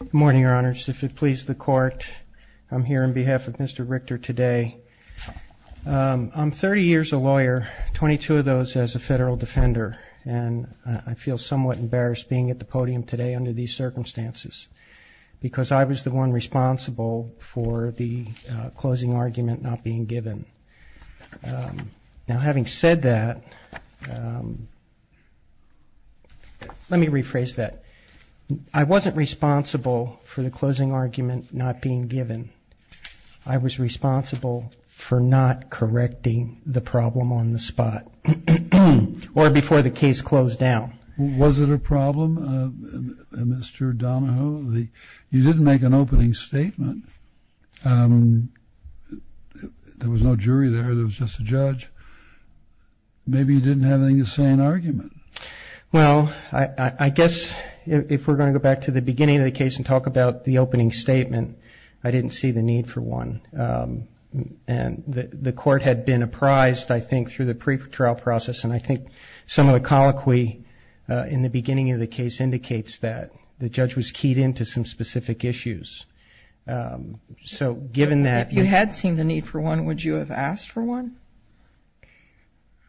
Good morning, your honors. If it pleases the court, I'm here on behalf of Mr. Richter today. I'm 30 years a lawyer, 22 of those as a federal defender. And I feel somewhat embarrassed being at the podium today under these circumstances because I was the one responsible for the closing argument not being given. Now, having said that, let me rephrase that. I wasn't responsible for the closing argument not being given. I was responsible for not correcting the problem on the spot or before the case closed down. Was it a problem, Mr. Donahoe? You didn't make an opening statement. There was no jury there, there was just a judge. Maybe you didn't have anything to say in argument. Well, I guess if we're going to go back to the beginning of the case and talk about the opening statement, I didn't see the need for one. And the court had been apprised, I think, through the pretrial process, and I think some of the colloquy in the beginning of the case indicates that the judge was keyed into some specific issues. So given that you had seen the need for one, would you have asked for one?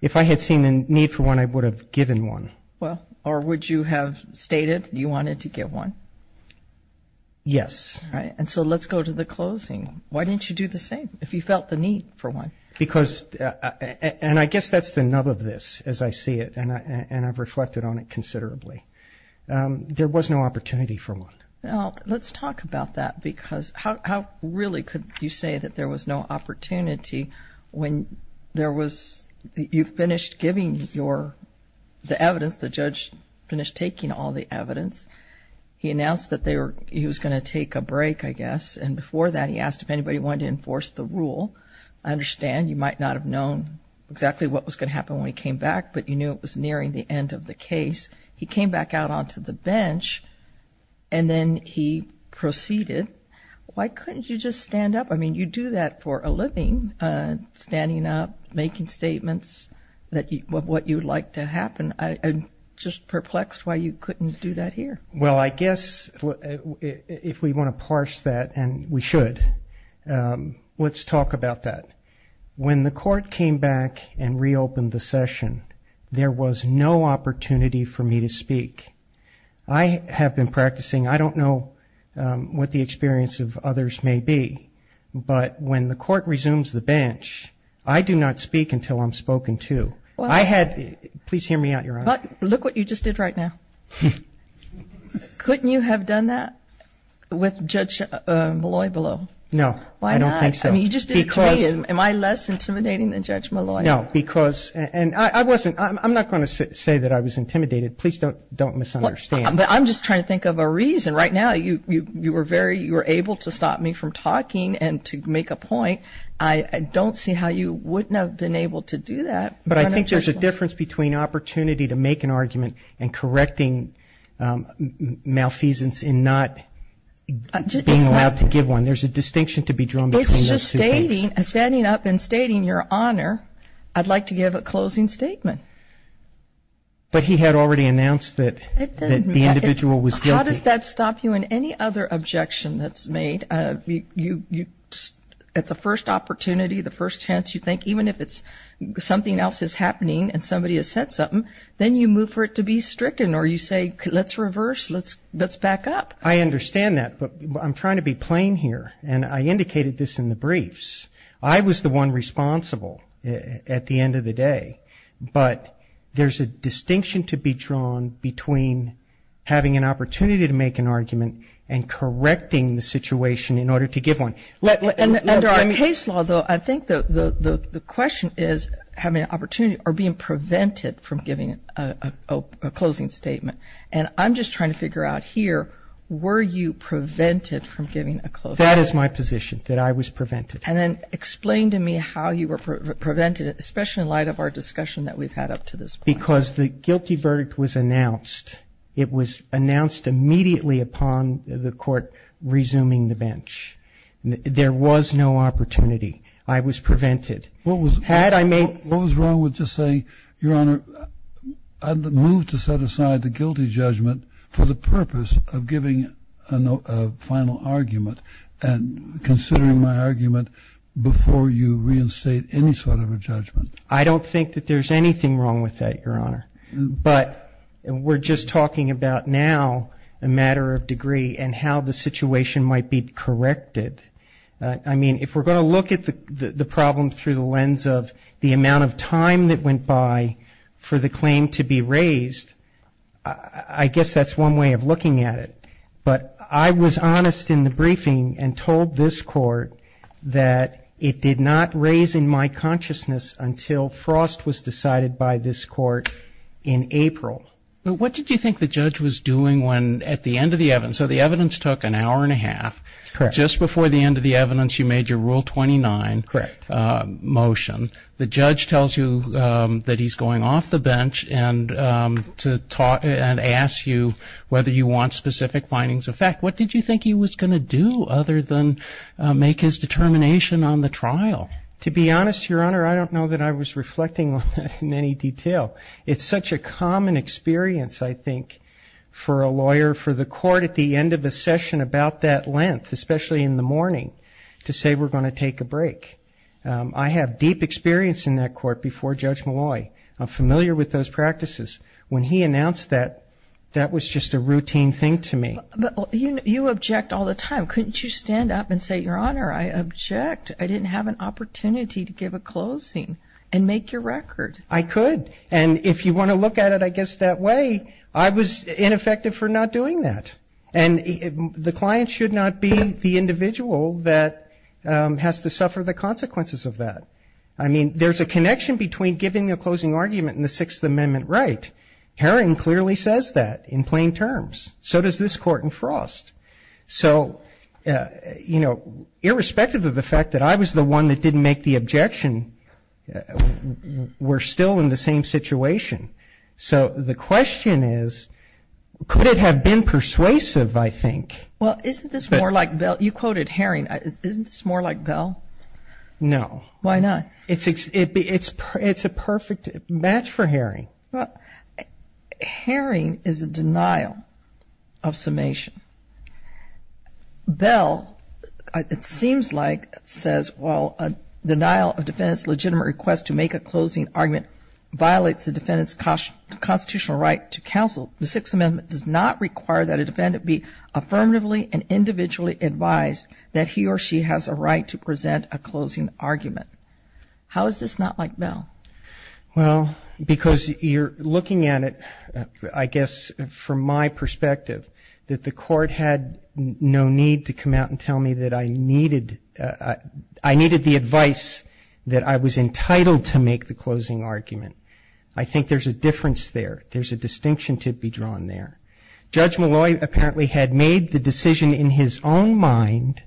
If I had seen the need for one, I would have given one. Well, or would you have stated you wanted to give one? Yes. All right. And so let's go to the closing. Why didn't you do the same if you felt the need for one? Because, and I guess that's the nub of this as I see it, and I've reflected on it considerably. There was no opportunity for one. Well, let's talk about that because how really could you say that there was no opportunity when there was, you finished giving the evidence, the judge finished taking all the evidence. He announced that he was going to take a break, I guess, and before that he asked if anybody wanted to enforce the rule. I understand you might not have known exactly what was going to happen when he came back, but you knew it was nearing the end of the case. He came back out onto the bench and then he proceeded. Why couldn't you just stand up? I mean, you do that for a living, standing up, making statements of what you would like to happen. I'm just perplexed why you couldn't do that here. Well, I guess if we want to parse that, and we should, let's talk about that. When the court came back and reopened the session, there was no opportunity for me to speak. I have been practicing. I don't know what the experience of others may be, but when the court resumes the bench, I do not speak until I'm spoken to. Please hear me out, Your Honor. Look what you just did right now. Couldn't you have done that with Judge Molloy below? No, I don't think so. Why not? I mean, you just did it to me. Am I less intimidating than Judge Molloy? No, because, and I wasn't, I'm not going to say that I was intimidated. Please don't misunderstand. I'm just trying to think of a reason. Right now you were very, you were able to stop me from talking and to make a point. I don't see how you wouldn't have been able to do that. But I think there's a difference between opportunity to make an argument and correcting malfeasance in not being allowed to give one. There's a distinction to be drawn between those two things. It's just stating, standing up and stating, Your Honor, I'd like to give a closing statement. But he had already announced that the individual was guilty. How does that stop you in any other objection that's made? At the first opportunity, the first chance you think, even if something else is happening and somebody has said something, then you move for it to be stricken or you say, let's reverse, let's back up. I understand that. But I'm trying to be plain here, and I indicated this in the briefs. I was the one responsible at the end of the day. But there's a distinction to be drawn between having an opportunity to make an argument and correcting the situation in order to give one. Under our case law, though, I think the question is having an opportunity or being prevented from giving a closing statement. And I'm just trying to figure out here, were you prevented from giving a closing statement? That is my position, that I was prevented. And then explain to me how you were prevented, especially in light of our discussion that we've had up to this point. Because the guilty verdict was announced. It was announced immediately upon the Court resuming the bench. There was no opportunity. I was prevented. What was wrong with just saying, Your Honor, I move to set aside the guilty judgment for the purpose of giving a final argument and considering my argument before you reinstate any sort of a judgment? I don't think that there's anything wrong with that, Your Honor. But we're just talking about now a matter of degree and how the situation might be corrected. I mean, if we're going to look at the problem through the lens of the amount of time that went by for the claim to be raised, I guess that's one way of looking at it. But I was honest in the briefing and told this Court that it did not raise in my consciousness until Frost was decided by this Court in April. But what did you think the judge was doing at the end of the evidence? So the evidence took an hour and a half. Correct. Just before the end of the evidence, you made your Rule 29 motion. The judge tells you that he's going off the bench and asks you whether you want specific findings of fact. What did you think he was going to do other than make his determination on the trial? To be honest, Your Honor, I don't know that I was reflecting on that in any detail. It's such a common experience, I think, for a lawyer, for the court at the end of a session about that length, especially in the morning, to say we're going to take a break. I have deep experience in that court before Judge Malloy. I'm familiar with those practices. When he announced that, that was just a routine thing to me. But you object all the time. Couldn't you stand up and say, Your Honor, I object? I didn't have an opportunity to give a closing and make your record. I could. And if you want to look at it, I guess, that way, I was ineffective for not doing that. And the client should not be the individual that has to suffer the consequences of that. I mean, there's a connection between giving a closing argument and the Sixth Amendment right. Herring clearly says that in plain terms. So does this Court in Frost. So, you know, irrespective of the fact that I was the one that didn't make the objection, we're still in the same situation. So the question is, could it have been persuasive, I think? Well, isn't this more like Bell? You quoted Herring. Isn't this more like Bell? No. Why not? It's a perfect match for Herring. Well, Herring is a denial of summation. Bell, it seems like, says, while a denial of defendant's legitimate request to make a closing argument violates the defendant's constitutional right to counsel, the Sixth Amendment does not require that a defendant be affirmatively and individually advised that he or she has a right to present a closing argument. How is this not like Bell? Well, because you're looking at it, I guess, from my perspective that the Court had no need to come out and tell me that I needed the advice that I was entitled to make the closing argument. I think there's a difference there. There's a distinction to be drawn there. Judge Malloy apparently had made the decision in his own mind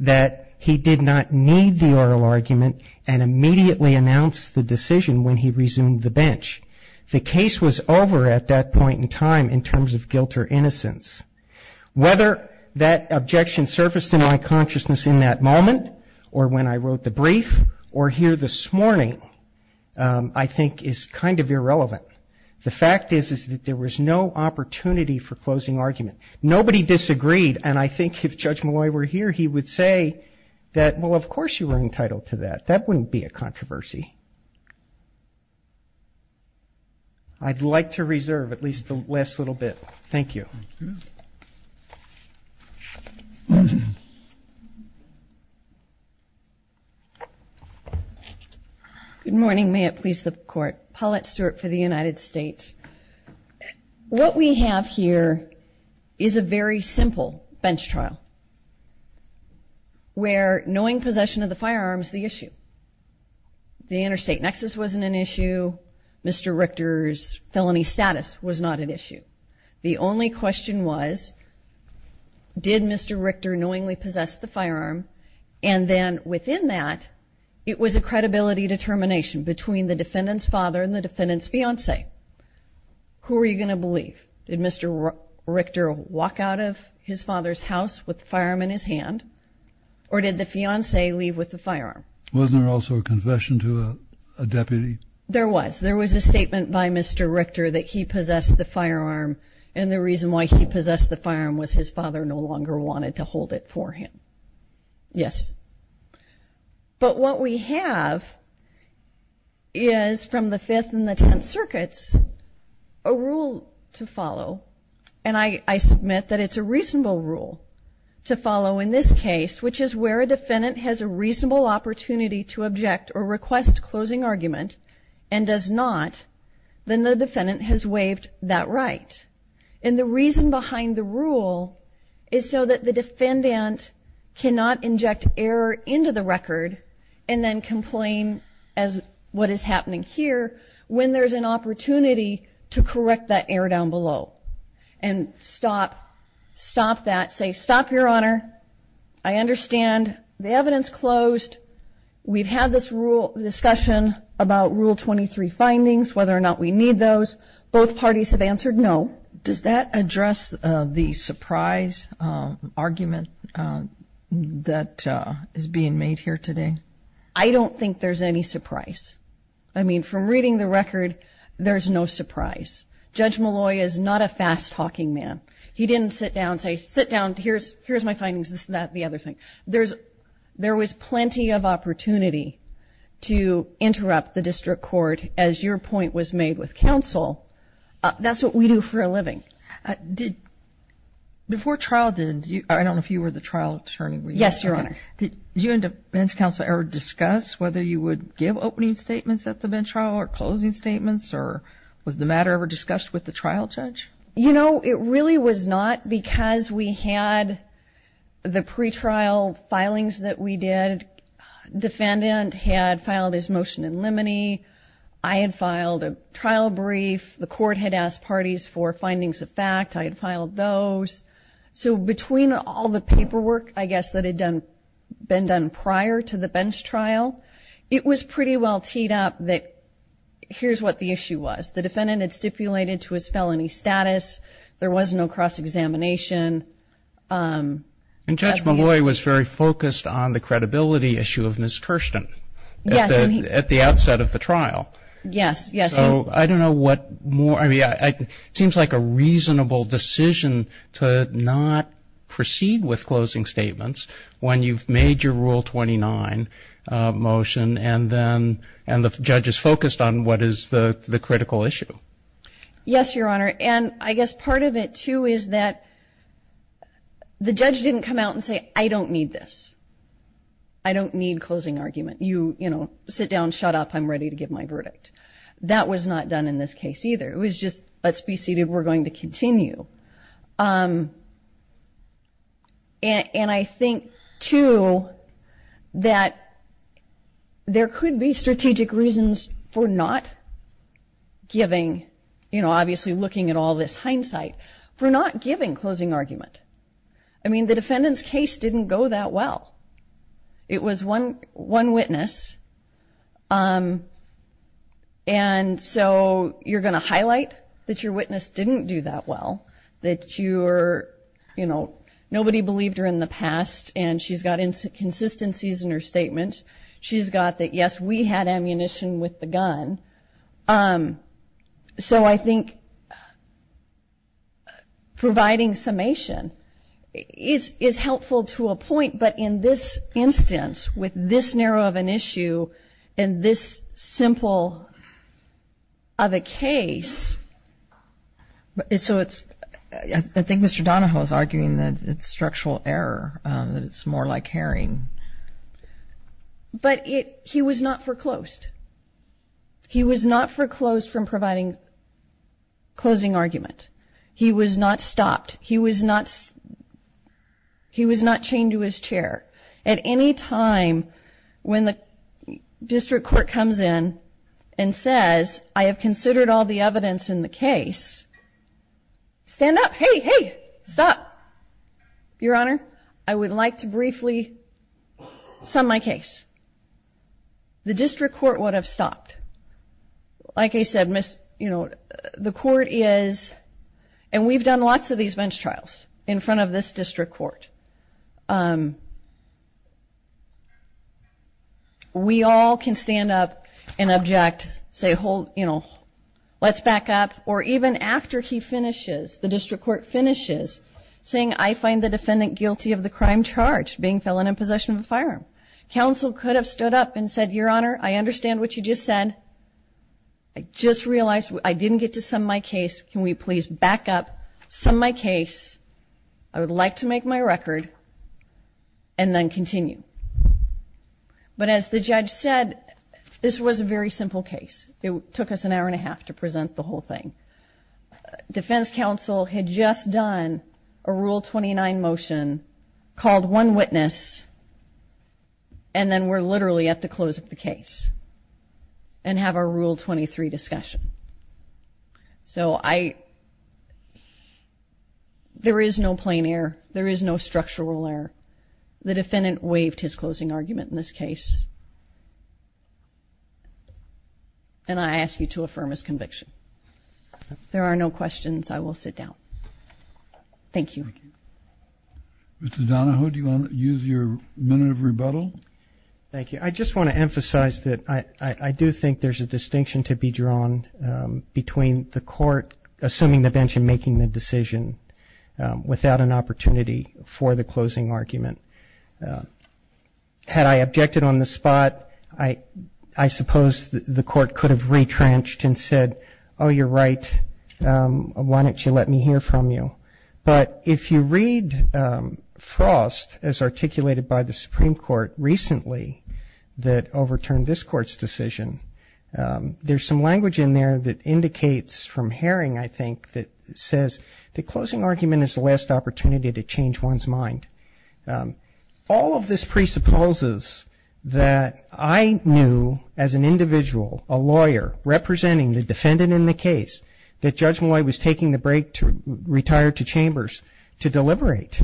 that he did not need the oral argument and immediately announced the decision when he resumed the bench. The case was over at that point in time in terms of guilt or innocence. Whether that objection surfaced in my consciousness in that moment or when I wrote the brief or here this morning I think is kind of irrelevant. The fact is that there was no opportunity for closing argument. Nobody disagreed, and I think if Judge Malloy were here, he would say that, well, of course you were entitled to that. That wouldn't be a controversy. I'd like to reserve at least the last little bit. Thank you. Good morning. May it please the Court. Paulette Stewart for the United States. What we have here is a very simple bench trial where knowing possession of the firearm is the issue. The interstate nexus wasn't an issue. Mr. Richter's felony status was not an issue. The only question was did Mr. Richter knowingly possess the firearm, and then within that it was a credibility determination between the defendant's father and the defendant's fiancee. Who were you going to believe? Did Mr. Richter walk out of his father's house with the firearm in his hand, or did the fiancee leave with the firearm? Wasn't there also a confession to a deputy? There was. There was a statement by Mr. Richter that he possessed the firearm, and the reason why he possessed the firearm was his father no longer wanted to hold it for him. Yes. But what we have is from the Fifth and the Tenth Circuits a rule to follow, and I submit that it's a reasonable rule to follow in this case, which is where a defendant has a reasonable opportunity to object or request closing argument and does not, then the defendant has waived that right. And the reason behind the rule is so that the defendant cannot inject error into the record and then complain as what is happening here when there's an opportunity to correct that error down below and stop that, say, stop, Your Honor. I understand. The evidence closed. We've had this discussion about Rule 23 findings, whether or not we need those. Both parties have answered no. Does that address the surprise argument that is being made here today? I don't think there's any surprise. I mean, from reading the record, there's no surprise. Judge Malloy is not a fast-talking man. He didn't sit down and say, sit down, here's my findings, this, that, the other thing. There was plenty of opportunity to interrupt the district court, as your point was made with counsel. That's what we do for a living. Before trial did, I don't know if you were the trial attorney. Yes, Your Honor. Did you and defense counsel ever discuss whether you would give opening statements at the bench trial or closing statements, or was the matter ever discussed with the trial judge? You know, it really was not because we had the pretrial filings that we did. Defendant had filed his motion in limine. I had filed a trial brief. The court had asked parties for findings of fact. I had filed those. So between all the paperwork, I guess, that had been done prior to the bench trial, it was pretty well teed up that here's what the issue was. The defendant had stipulated to his felony status. There was no cross-examination. And Judge Malloy was very focused on the credibility issue of Ms. Kirsten. Yes. At the outset of the trial. Yes, yes. So I don't know what more. I mean, it seems like a reasonable decision to not proceed with closing statements when you've made your Rule 29 motion and the judge is focused on what is the critical issue. Yes, Your Honor. And I guess part of it, too, is that the judge didn't come out and say, I don't need this. I don't need closing argument. You, you know, sit down, shut up, I'm ready to give my verdict. That was not done in this case either. It was just, let's be seated, we're going to continue. And I think, too, that there could be strategic reasons for not giving, you know, obviously looking at all this hindsight, for not giving closing argument. I mean, the defendant's case didn't go that well. It was one witness. And so you're going to highlight that your witness didn't do that well, that you're, you know, nobody believed her in the past, and she's got inconsistencies in her statement. She's got that, yes, we had ammunition with the gun. So I think providing summation is helpful to a point, but in this instance, with this narrow of an issue and this simple of a case, so it's ‑‑ I think Mr. Donahoe is arguing that it's structural error, that it's more like herring. But he was not foreclosed. He was not foreclosed from providing closing argument. He was not stopped. He was not chained to his chair. At any time when the district court comes in and says, I have considered all the evidence in the case, stand up. Hey, hey, stop. Your Honor, I would like to briefly sum my case. The district court would have stopped. Like I said, Ms. ‑‑ you know, the court is, and we've done lots of these bench trials in front of this district court. We all can stand up and object, say, hold, you know, let's back up. Or even after he finishes, the district court finishes, saying, I find the defendant guilty of the crime charged, being felon in possession of a firearm. Counsel could have stood up and said, Your Honor, I understand what you just said. I just realized I didn't get to sum my case. Can we please back up, sum my case? I would like to make my record, and then continue. But as the judge said, this was a very simple case. It took us an hour and a half to present the whole thing. Defense counsel had just done a Rule 29 motion, called one witness, and then we're literally at the close of the case, and have our Rule 23 discussion. So I ‑‑ there is no plain error. There is no structural error. The defendant waived his closing argument in this case. And I ask you to affirm his conviction. If there are no questions, I will sit down. Thank you. Mr. Donohue, do you want to use your minute of rebuttal? Thank you. I just want to emphasize that I do think there's a distinction to be drawn between the court, assuming the bench in making the decision, without an opportunity for the closing argument. Had I objected on the spot, I suppose the court could have retrenched and said, Oh, you're right. Why don't you let me hear from you? But if you read Frost, as articulated by the Supreme Court recently, that overturned this court's decision, there's some language in there that indicates from Haring, I think, that says the closing argument is the last opportunity to change one's mind. All of this presupposes that I knew as an individual, a lawyer, representing the defendant in the case, that Judge Malloy was taking the break to retire to Chambers to deliberate.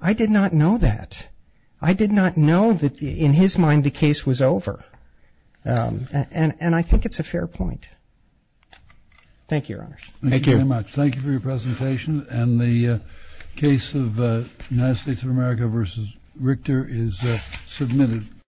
I did not know that. I did not know that in his mind the case was over. And I think it's a fair point. Thank you, Your Honors. Thank you. Thank you very much. Thank you for your presentation. And the case of United States of America v. Richter is submitted.